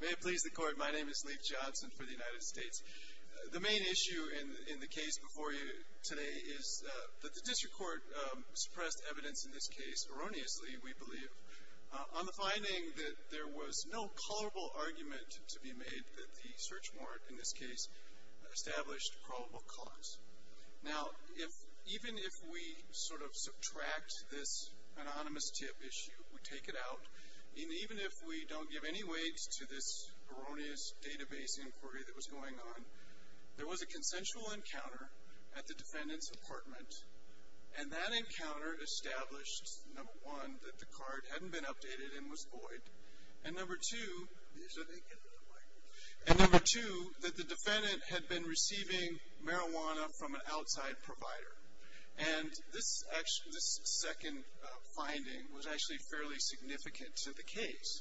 May it please the Court, my name is Leif Johnson for the United States. The main issue in the case before you today is that the District Court suppressed evidence in this case erroneously, we believe, on the finding that there was no culpable argument to be made that the search warrant, in this case, established probable cause. Now, even if we sort of subtract this anonymous tip issue, we take it out, and even if we don't give any weight to this erroneous database inquiry that was going on, there was a consensual encounter at the defendant's apartment, and that encounter established, number one, that the card hadn't been updated and was void, and number two, that the defendant had been receiving marijuana from an outside provider. And this second finding was actually fairly significant to the case.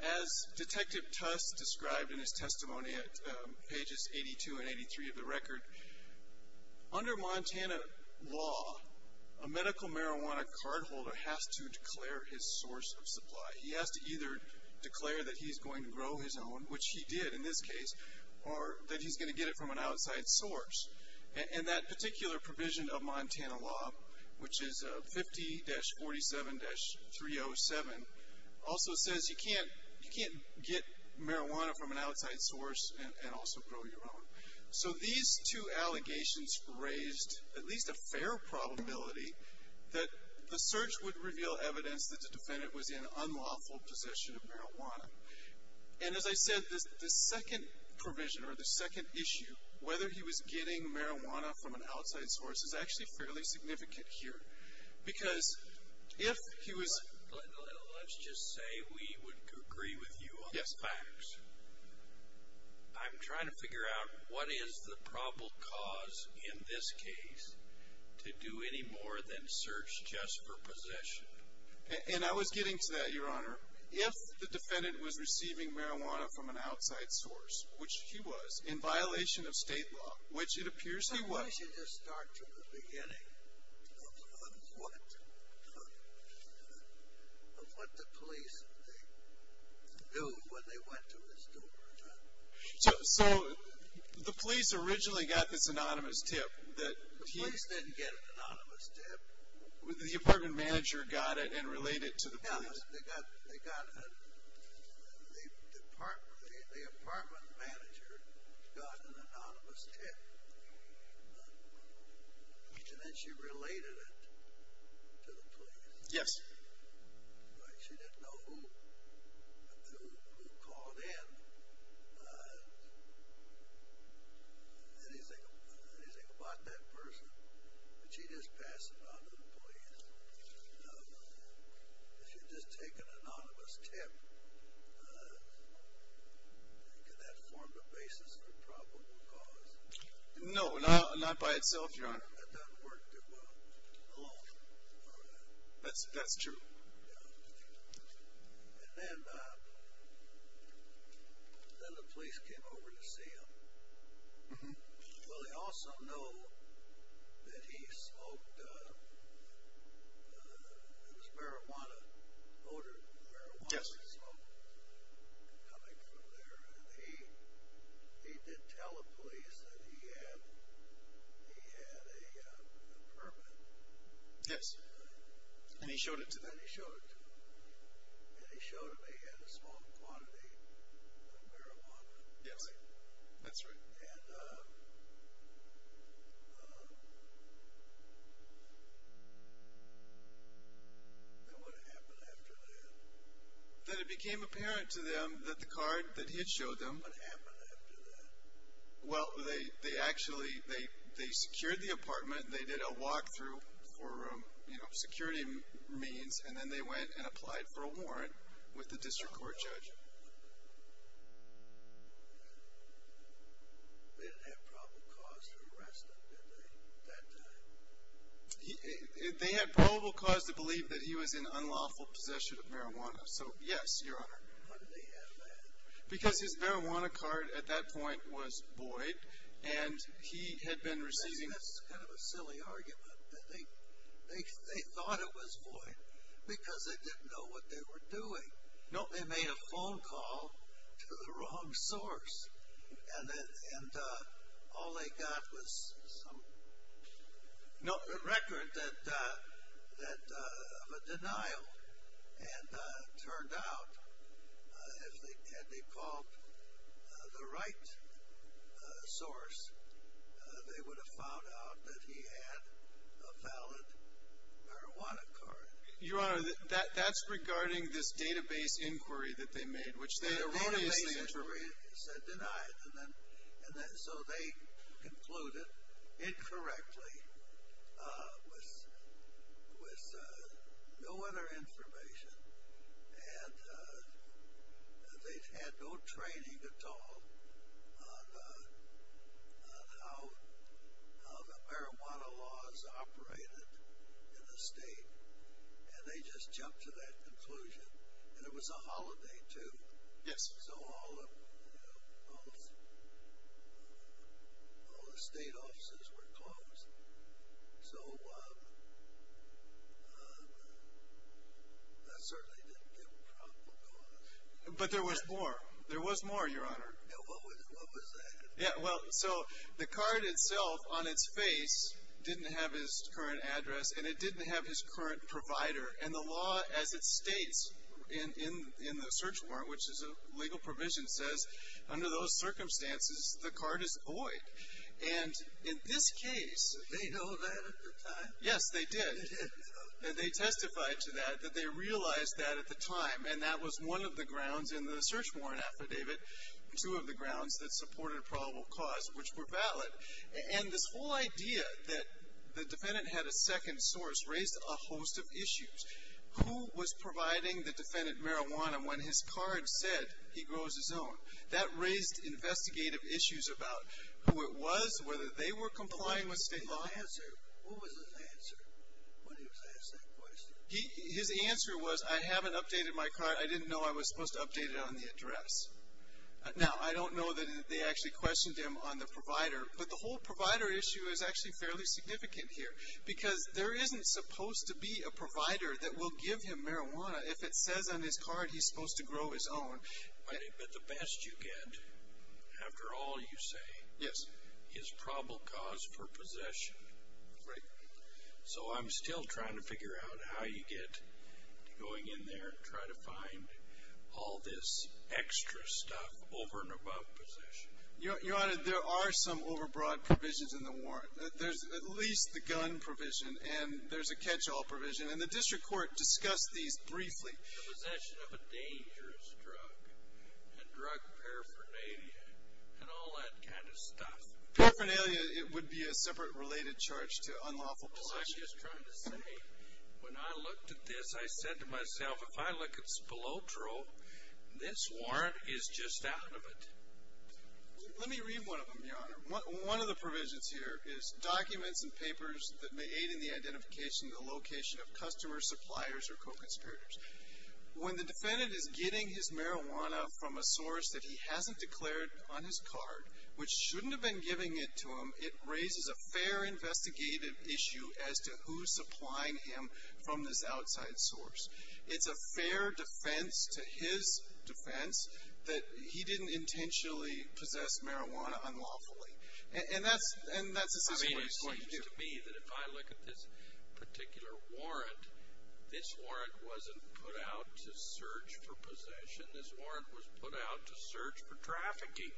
As Detective Tuss described in his testimony at pages 82 and 83 of the record, under Montana law, a medical marijuana cardholder has to declare his source of supply. He has to either declare that he's going to grow his own, which he did in this case, or that he's going to get it from an outside source. And that particular provision of Montana law, which is 50-47-307, also says you can't get marijuana from an outside source and also grow your own. So these two allegations raised at least a fair probability that the search would reveal evidence that the defendant was in an unlawful possession of marijuana. And as I said, the second provision, or the second issue, whether he was getting marijuana from an outside source, is actually fairly significant here. Let's just say we would agree with you on the facts. I'm trying to figure out what is the probable cause in this case to do any more than search just for possession. And I was getting to that, Your Honor. If the defendant was receiving marijuana from an outside source, which he was, in violation of state law, which it appears he was. Why don't you just start from the beginning of what the police do when they went to his door, Your Honor? So the police originally got this anonymous tip that he The police didn't get an anonymous tip. The apartment manager got it and relayed it to the police. The apartment manager got an anonymous tip and then she related it to the police. Yes. She didn't know who called in, anything about that person, but she just passed it on to the police. Now, if you had just taken an anonymous tip, could that have formed a basis for probable cause? No, not by itself, Your Honor. That doesn't work too well alone. That's true. And then the police came over to see him. Well, they also know that he smoked, it was marijuana, odorless marijuana he smoked coming from there. And he did tell the police that he had a permit. Yes. And he showed it to them. And he showed it to them. Yes. That's right. And then what happened after that? Then it became apparent to them that the card that he had showed them What happened after that? Well, they actually, they secured the apartment, they did a walkthrough for security means, and then they went and applied for a warrant with the district court judge. They didn't have probable cause to arrest him, did they, at that time? They had probable cause to believe that he was in unlawful possession of marijuana. So, yes, Your Honor. Why did they have that? Because his marijuana card at that point was void, and he had been receiving That's kind of a silly argument. They thought it was void because they didn't know what they were doing. No, they made a phone call to the wrong source. And all they got was some record of a denial. And it turned out, had they called the right source, they would have found out that he had a valid marijuana card. Your Honor, that's regarding this database inquiry that they made, which they erroneously interpreted. The database inquiry said denied. So they concluded, incorrectly, with no other information. And they had no training at all on how the marijuana laws operated in the state. And they just jumped to that conclusion. And it was a holiday, too. Yes. So all the state offices were closed. So that certainly didn't give a probable cause. But there was more. There was more, Your Honor. What was that? Well, so the card itself, on its face, didn't have his current address, and it didn't have his current provider. And the law, as it states in the search warrant, which is a legal provision, says under those circumstances the card is void. And in this case they did. And they testified to that, that they realized that at the time. And that was one of the grounds in the search warrant affidavit, two of the grounds that supported a probable cause, which were valid. And this whole idea that the defendant had a second source raised a host of issues. Who was providing the defendant marijuana when his card said he grows his own? That raised investigative issues about who it was, whether they were complying with state law. What was his answer when he was asked that question? His answer was, I haven't updated my card. I didn't know I was supposed to update it on the address. Now, I don't know that they actually questioned him on the provider, but the whole provider issue is actually fairly significant here. Because there isn't supposed to be a provider that will give him marijuana if it says on his card he's supposed to grow his own. But the best you get, after all you say, is probable cause for possession. Right. So I'm still trying to figure out how you get to going in there and try to find all this extra stuff over and above possession. Your Honor, there are some overbroad provisions in the warrant. There's at least the gun provision and there's a catch-all provision. And the district court discussed these briefly. The possession of a dangerous drug and drug paraphernalia and all that kind of stuff. Paraphernalia, it would be a separate related charge to unlawful possession. Well, I'm just trying to say, when I looked at this, I said to myself, if I look at Spilotro, this warrant is just out of it. Let me read one of them, Your Honor. One of the provisions here is documents and papers that may aid in the identification and the location of customers, suppliers, or co-conspirators. When the defendant is getting his marijuana from a source that he hasn't declared on his card, which shouldn't have been giving it to him, it raises a fair investigative issue as to who's supplying him from this outside source. It's a fair defense to his defense that he didn't intentionally possess marijuana unlawfully. And that's a system where he's going to do it. I mean, it seems to me that if I look at this particular warrant, this warrant wasn't put out to search for possession. This warrant was put out to search for trafficking.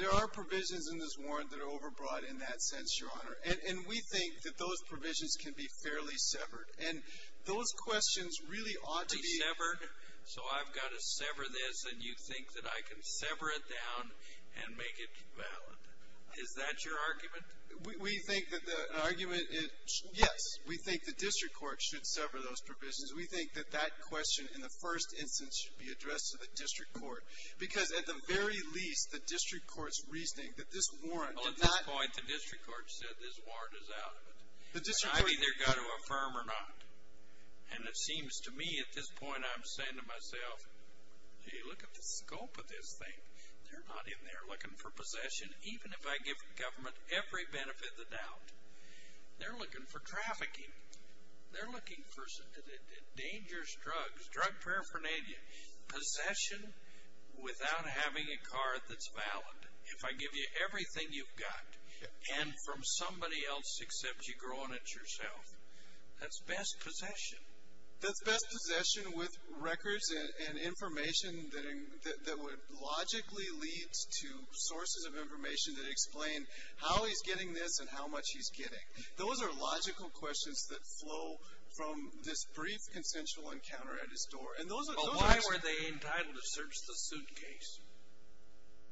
There are provisions in this warrant that are overbroad in that sense, Your Honor. And we think that those provisions can be fairly severed. And those questions really ought to be. Severed? So I've got to sever this, and you think that I can sever it down and make it valid? Is that your argument? We think that the argument is yes. We think the district court should sever those provisions. We think that that question in the first instance should be addressed to the district court. Because at the very least, the district court's reasoning that this warrant did not. Well, at this point, the district court said this warrant is out of it. I've either got to affirm or not. And it seems to me at this point I'm saying to myself, hey, look at the scope of this thing. They're not in there looking for possession. Even if I give the government every benefit of the doubt, they're looking for trafficking. They're looking for dangerous drugs, drug paraphernalia, possession without having a card that's valid. If I give you everything you've got and from somebody else except you grow on it yourself, that's best possession. That's best possession with records and information that would logically lead to sources of information that explain how he's getting this and how much he's getting. Those are logical questions that flow from this brief consensual encounter at his door. But why were they entitled to search the suitcase?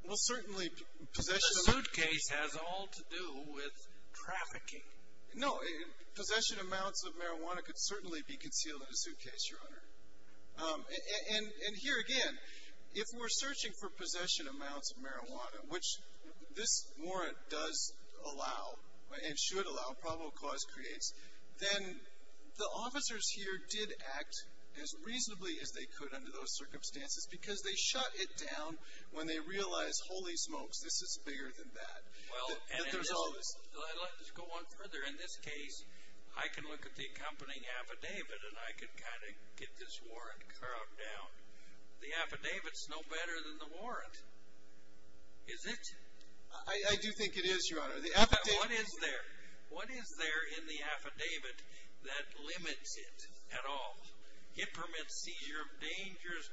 Well, certainly possession of- The suitcase has all to do with trafficking. No, possession amounts of marijuana could certainly be concealed in a suitcase, Your Honor. And here again, if we're searching for possession amounts of marijuana, which this warrant does allow and should allow, probable cause creates, then the officers here did act as reasonably as they could under those circumstances because they shut it down when they realized, holy smokes, this is bigger than that. There's always- Let's go on further. In this case, I can look at the accompanying affidavit and I can kind of get this warrant carved down. The affidavit's no better than the warrant, is it? I do think it is, Your Honor. What is there? What is there in the affidavit that limits it at all? It permits seizure of dangerous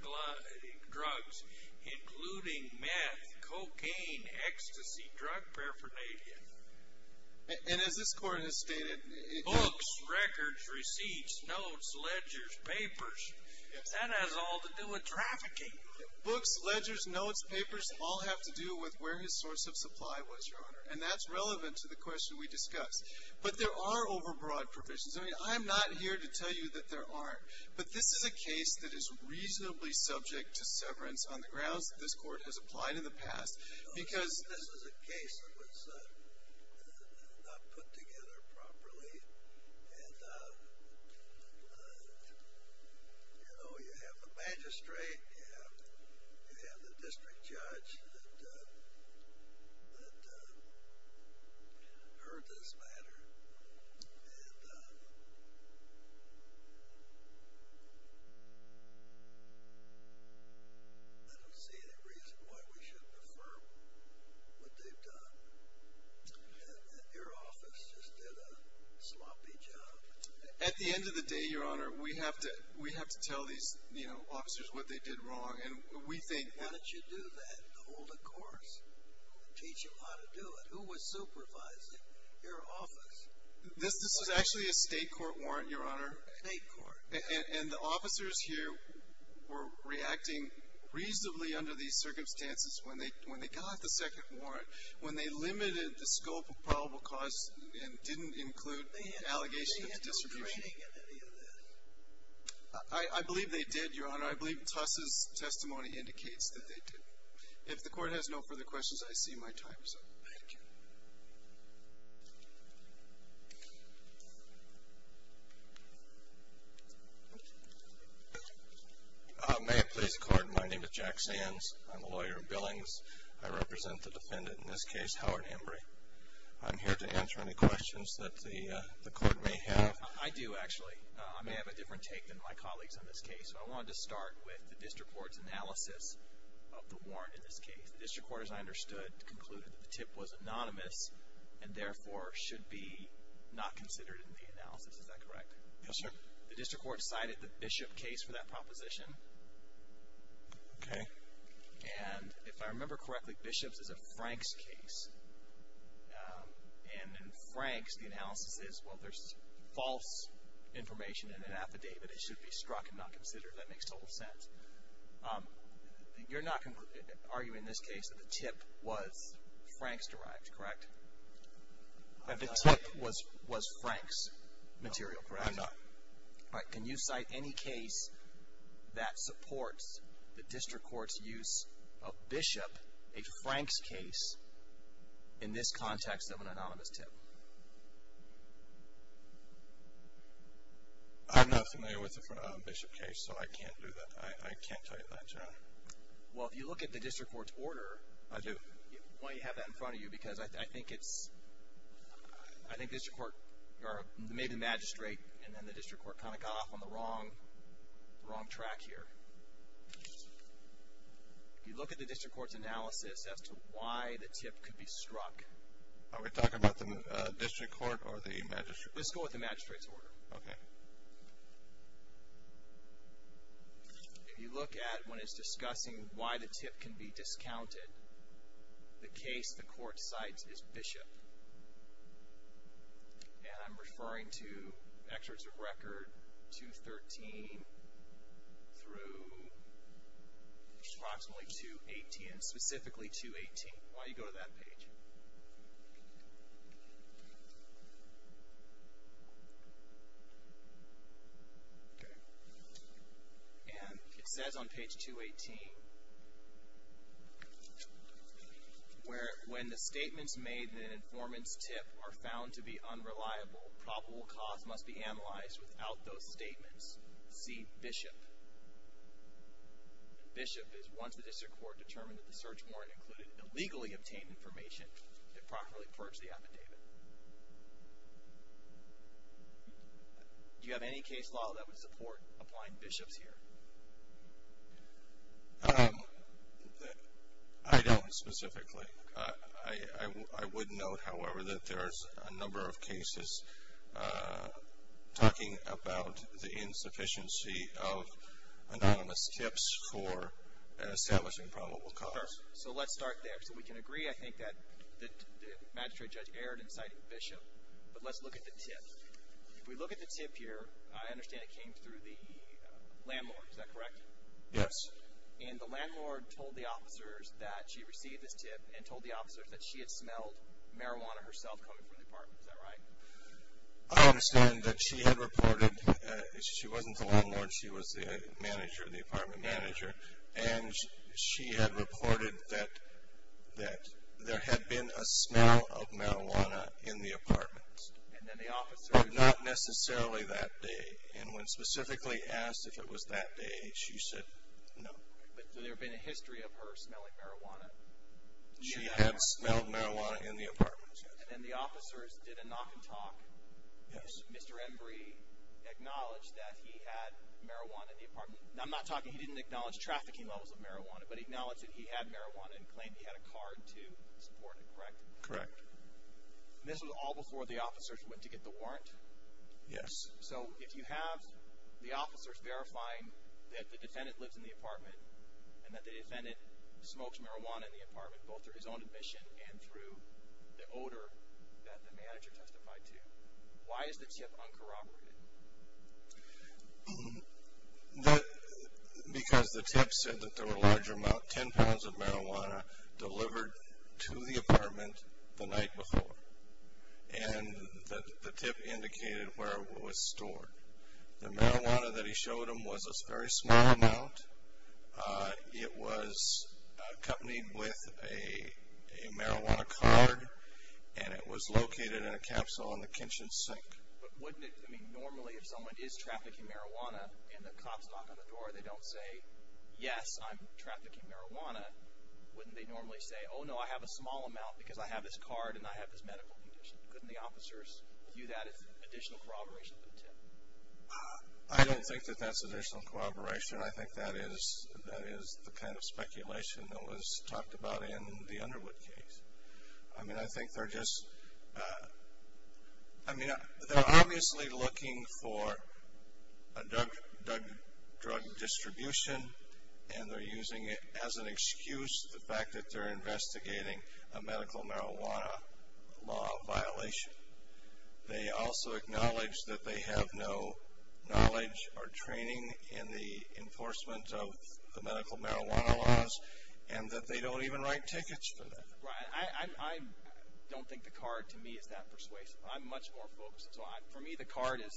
drugs, including meth, cocaine, ecstasy, drug paraphernalia. And as this court has stated- Books, records, receipts, notes, ledgers, papers. If that has all to do with trafficking- Books, ledgers, notes, papers all have to do with where his source of supply was, Your Honor. And that's relevant to the question we discussed. But there are overbroad provisions. I'm not here to tell you that there aren't. But this is a case that is reasonably subject to severance on the grounds that this court has applied in the past because- This is a case that was not put together properly. And, you know, you have the magistrate, you have the district judge that heard this matter. And I don't see any reason why we should defer what they've done. And your office just did a sloppy job. At the end of the day, Your Honor, we have to tell these, you know, officers what they did wrong. And we think- How did you do that? To hold a course, teach them how to do it. Who was supervising your office? This is actually a state court warrant, Your Honor. State court. And the officers here were reacting reasonably under these circumstances when they got the second warrant, when they limited the scope of probable cause and didn't include an allegation of distribution. They had no training in any of this. I believe they did, Your Honor. I believe Tus' testimony indicates that they did. If the court has no further questions, I see my time is up. Thank you. May it please the Court, my name is Jack Sands. I'm a lawyer in Billings. I represent the defendant in this case, Howard Embry. I'm here to answer any questions that the Court may have. I do, actually. I may have a different take than my colleagues in this case. I wanted to start with the district court's analysis of the warrant in this case. The district court, as I understood, concluded that the tip was anonymous and therefore should be not considered in the analysis. Is that correct? Yes, sir. The district court cited the Bishop case for that proposition. Okay. And if I remember correctly, Bishop's is a Frank's case. And in Frank's, the analysis is, well, there's false information in an affidavit. It should be struck and not considered. That makes total sense. You're not arguing in this case that the tip was Frank's derived, correct? The tip was Frank's material, correct? No, I'm not. All right. Can you cite any case that supports the district court's use of Bishop, a Frank's case, in this context of an anonymous tip? I'm not familiar with the Bishop case, so I can't do that. I can't cite that. Well, if you look at the district court's order. I do. Why do you have that in front of you? Because I think it's, I think the district court, or maybe the magistrate, and then the district court kind of got off on the wrong track here. If you look at the district court's analysis as to why the tip could be struck. Are we talking about the district court or the magistrate? Let's go with the magistrate's order. Okay. If you look at when it's discussing why the tip can be discounted, the case the court cites is Bishop. And I'm referring to excerpts of record 213 through approximately 218, specifically 218. Why don't you go to that page? Okay. And it says on page 218, where when the statements made in an informant's tip are found to be unreliable, probable cause must be analyzed without those statements. See Bishop. Bishop is once the district court determined that the search warrant included illegally obtained information to properly purge the affidavit. Do you have any case law that would support applying Bishops here? I don't specifically. I would note, however, that there's a number of cases talking about the insufficiency of anonymous tips for establishing probable cause. So let's start there. So we can agree, I think, that the magistrate judge erred in citing Bishop. But let's look at the tip. If we look at the tip here, I understand it came through the landlord. Is that correct? Yes. And the landlord told the officers that she received this tip and told the officers that she had smelled marijuana herself coming from the apartment. Is that right? I understand that she had reported. She wasn't the landlord. She was the manager, the apartment manager. And she had reported that there had been a smell of marijuana in the apartment. But not necessarily that day. And when specifically asked if it was that day, she said no. But there had been a history of her smelling marijuana? She had smelled marijuana in the apartment. And the officers did a knock and talk. Yes. Mr. Embree acknowledged that he had marijuana in the apartment. Now, I'm not talking he didn't acknowledge trafficking levels of marijuana, but acknowledged that he had marijuana and claimed he had a card to support it, correct? Correct. And this was all before the officers went to get the warrant? Yes. So if you have the officers verifying that the defendant lives in the apartment and that the defendant smokes marijuana in the apartment both through his own admission and through the odor that the manager testified to, why is the tip uncorroborated? Because the tip said that there were a large amount, 10 pounds of marijuana delivered to the apartment the night before. And the tip indicated where it was stored. The marijuana that he showed them was a very small amount. It was accompanied with a marijuana card, and it was located in a capsule in the kitchen sink. But wouldn't it be normally if someone is trafficking marijuana and the cops knock on the door and they don't say, yes, I'm trafficking marijuana, wouldn't they normally say, oh, no, I have a small amount because I have this card and I have this medical condition? Couldn't the officers view that as additional corroboration of the tip? I don't think that that's additional corroboration. I think that is the kind of speculation that was talked about in the Underwood case. I mean, I think they're just – I mean, they're obviously looking for a drug distribution, and they're using it as an excuse for the fact that they're investigating a medical marijuana law violation. They also acknowledge that they have no knowledge or training in the enforcement of the medical marijuana laws and that they don't even write tickets for that. I don't think the card, to me, is that persuasive. I'm much more focused. For me, the card is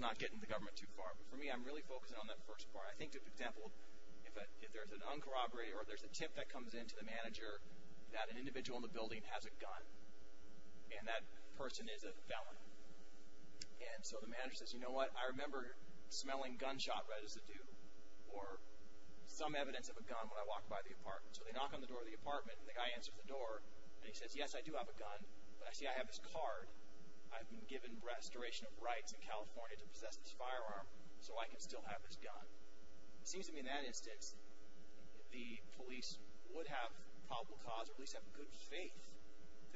not getting the government too far. But for me, I'm really focusing on that first part. I think, for example, if there's an uncorroborated or there's a tip that comes in to the manager that an individual in the building has a gun and that person is a felon. And so the manager says, you know what, I remember smelling gunshot red as a dude or some evidence of a gun when I walked by the apartment. So they knock on the door of the apartment, and the guy answers the door. And he says, yes, I do have a gun, but I see I have this card. I've been given restoration of rights in California to possess this firearm so I can still have this gun. It seems to me in that instance, the police would have probable cause or at least have good faith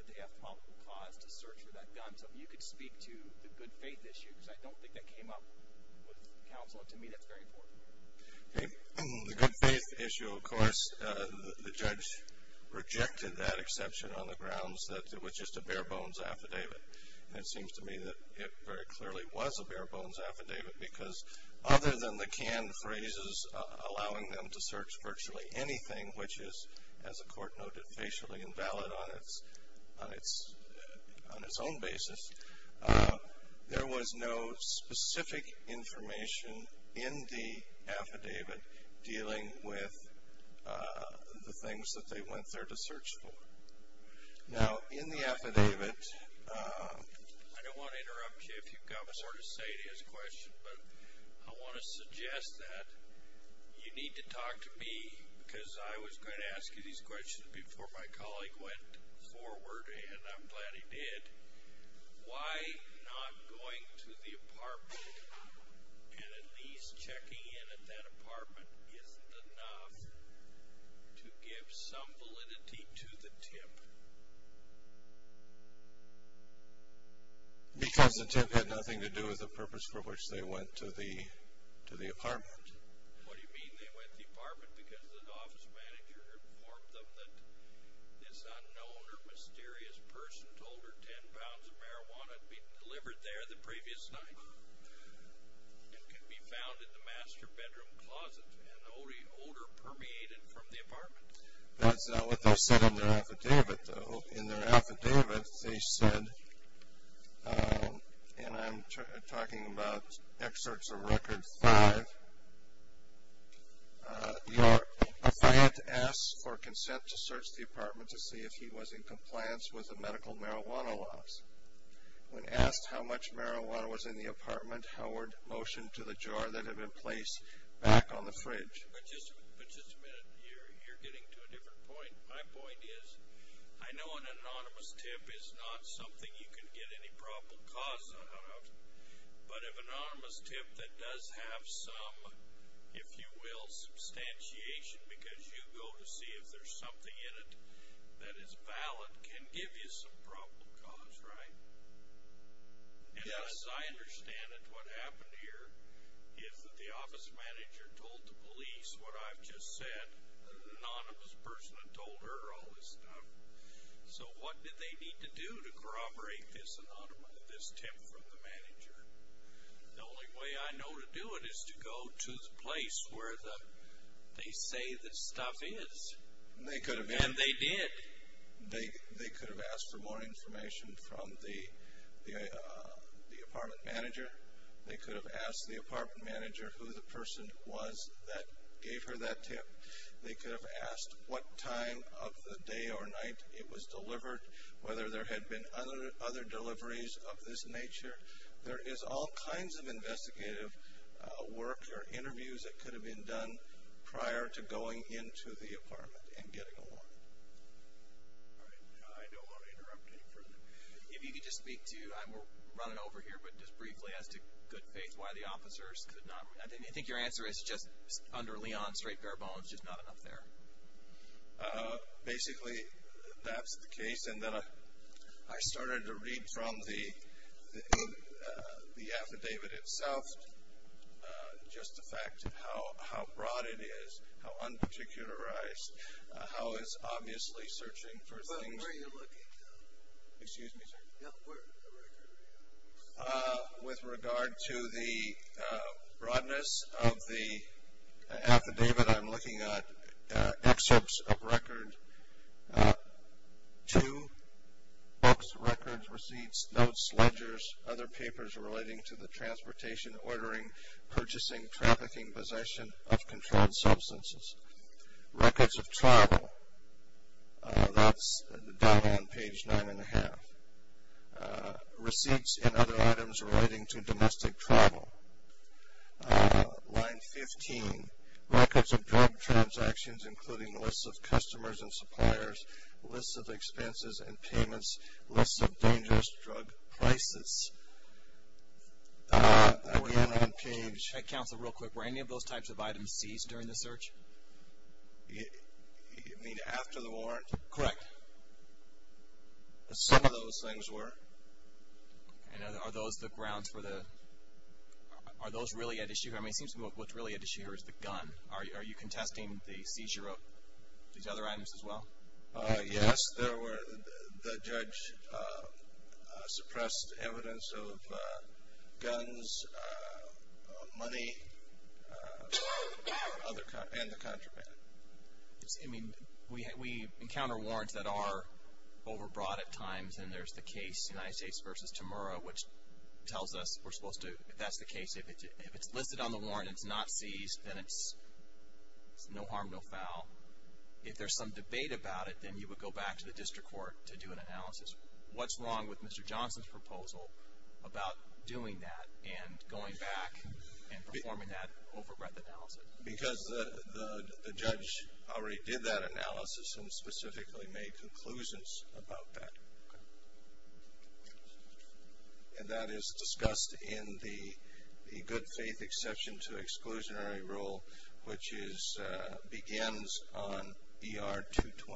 that they have probable cause to search for that gun. So if you could speak to the good faith issue, because I don't think that came up with counsel. To me, that's very important. The good faith issue, of course, the judge rejected that exception on the grounds that it was just a bare bones affidavit. And it seems to me that it very clearly was a bare bones affidavit because other than the canned phrases allowing them to search virtually anything, which is, as the court noted, facially invalid on its own basis, there was no specific information in the affidavit dealing with the things that they went there to search for. Now, in the affidavit. I don't want to interrupt you if you've got a sort of serious question, but I want to suggest that you need to talk to me because I was going to ask you these questions before my colleague went forward, and I'm glad he did. Why not going to the apartment and at least checking in at that apartment isn't enough to give some validity to the tip? Because the tip had nothing to do with the purpose for which they went to the apartment. What do you mean they went to the apartment? Because the office manager informed them that this unknown or mysterious person told her ten pounds of marijuana had been delivered there the previous night and could be found in the master bedroom closet, and the odor permeated from the apartment. That's not what they said in their affidavit, though. In their affidavit, they said, and I'm talking about excerpts of record five. Your client asks for consent to search the apartment to see if he was in compliance with the medical marijuana laws. When asked how much marijuana was in the apartment, Howard motioned to the jar that had been placed back on the fridge. But just a minute here. You're getting to a different point. My point is I know an anonymous tip is not something you can get any probable cause out of, but an anonymous tip that does have some, if you will, substantiation because you go to see if there's something in it that is valid can give you some probable cause, right? Yes. As I understand it, what happened here is that the office manager told the police what I've just said, an anonymous person had told her all this stuff. So what did they need to do to corroborate this tip from the manager? The only way I know to do it is to go to the place where they say this stuff is. And they did. They could have asked for more information from the apartment manager. They could have asked the apartment manager who the person was that gave her that tip. They could have asked what time of the day or night it was delivered, whether there had been other deliveries of this nature. There is all kinds of investigative work or interviews that could have been done prior to going into the apartment and getting a warrant. All right. I don't want to interrupt any further. If you could just speak to, we're running over here, but just briefly as to good faith why the officers could not, I think your answer is just under Leon, straight bare bones, just not enough there. Basically, that's the case. And then I started to read from the affidavit itself just the fact of how broad it is, how unparticularized, how it's obviously searching for things. Where are you looking, though? Excuse me, sir? Where is the record? With regard to the broadness of the affidavit, I'm looking at excerpts of record two, books, records, receipts, notes, ledgers, other papers relating to the transportation, ordering, purchasing, trafficking, possession of controlled substances. Records of travel, that's down on page nine and a half. Receipts and other items relating to domestic travel. Line 15, records of drug transactions, including lists of customers and suppliers, lists of expenses and payments, lists of dangerous drug prices. That would end on page. Counsel, real quick, were any of those types of items seized during the search? You mean after the warrant? Correct. Some of those things were. Are those the grounds for the, are those really at issue? I mean, it seems to me what's really at issue here is the gun. Are you contesting the seizure of these other items as well? Yes. There were, the judge suppressed evidence of guns, money, and the contraband. I mean, we encounter warrants that are overbrought at times, and there's the case, United States versus Temura, which tells us we're supposed to, if that's the case, if it's listed on the warrant and it's not seized, then it's no harm, no foul. If there's some debate about it, then you would go back to the district court to do an analysis. What's wrong with Mr. Johnson's proposal about doing that and going back and performing that overbreath analysis? Because the judge already did that analysis and specifically made conclusions about that. And that is discussed in the good faith exception to exclusionary rule, which begins on ER 220. I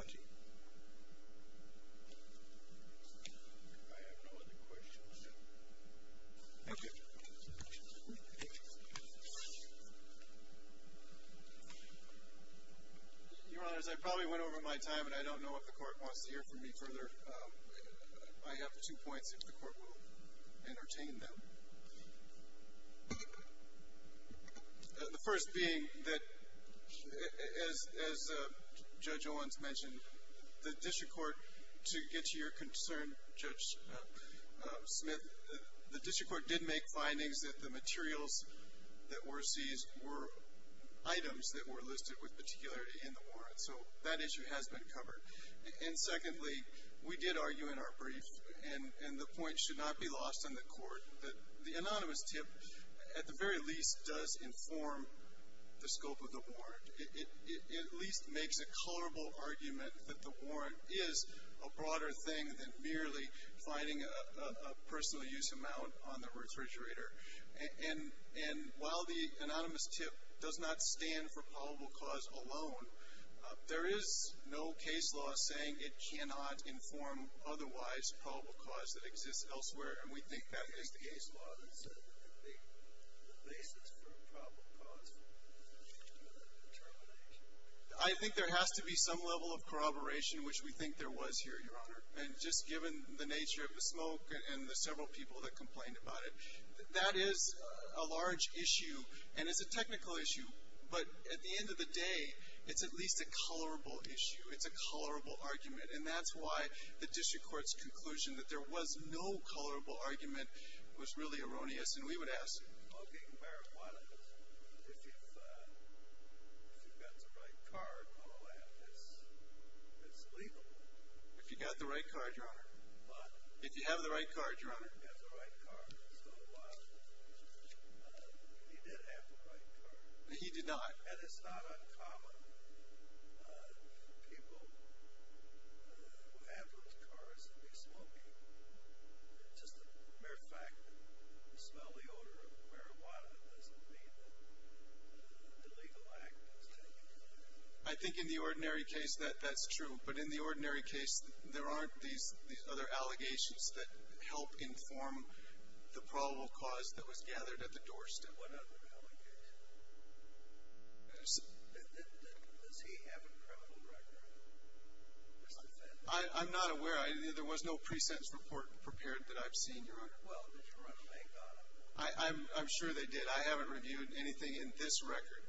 have no other questions. Thank you. Your Honors, I probably went over my time, and I don't know if the court wants to hear from me further. I have two points if the court will entertain them. The first being that, as Judge Owens mentioned, the district court, to get to your concern, Judge Smith, the district court did make findings that the materials that were seized were items that were listed with particularity in the warrant. So that issue has been covered. And secondly, we did argue in our brief, and the point should not be lost on the court, that the anonymous tip, at the very least, does inform the scope of the warrant. It at least makes a colorable argument that the warrant is a broader thing than merely finding a personal use amount on the refrigerator. And while the anonymous tip does not stand for probable cause alone, there is no case law saying it cannot inform otherwise probable cause that exists elsewhere, and we think that is the case law that is the basis for probable cause determination. I think there has to be some level of corroboration, which we think there was here, Your Honor. And just given the nature of the smoke and the several people that complained about it, that is a large issue, and it's a technical issue. But at the end of the day, it's at least a colorable issue. It's a colorable argument. And that's why the district court's conclusion that there was no colorable argument was really erroneous, and we would ask. Okay. If you've got the right card, it's legal. If you've got the right card, Your Honor. If you have the right card, Your Honor. If you have the right card. So he did have the right card. He did not. And it's not uncommon for people who have those cards to be smoking. Just the mere fact that you smell the odor of marijuana doesn't mean that the legal act was taken. I think in the ordinary case, that's true. But in the ordinary case, there aren't these other allegations that help inform the probable cause that was gathered at the doorstep. What other allegations? Does he have a criminal record as defendant? I'm not aware. There was no pre-sentence report prepared that I've seen, Your Honor. Well, did you run a bank on him? I'm sure they did. I haven't reviewed anything in this record.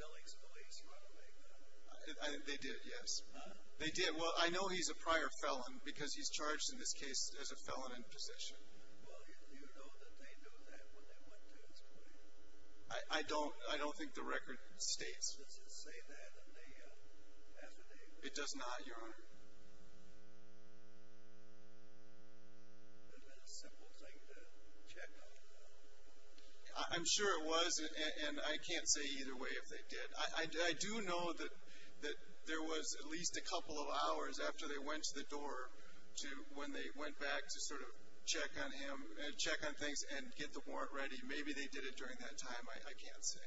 Billings Police run a bank on him. They did, yes. Huh? They did. Well, I know he's a prior felon because he's charged in this case as a felon in possession. Well, do you know that they knew that when they went to his clinic? I don't. I don't think the record states. Does it say that in the affidavit? It does not, Your Honor. It would have been a simple thing to check on. I'm sure it was, and I can't say either way if they did. I do know that there was at least a couple of hours after they went to the door when they went back to sort of check on him, check on things, and get the warrant ready. Maybe they did it during that time. I can't say.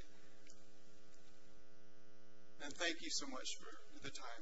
And thank you so much for the time.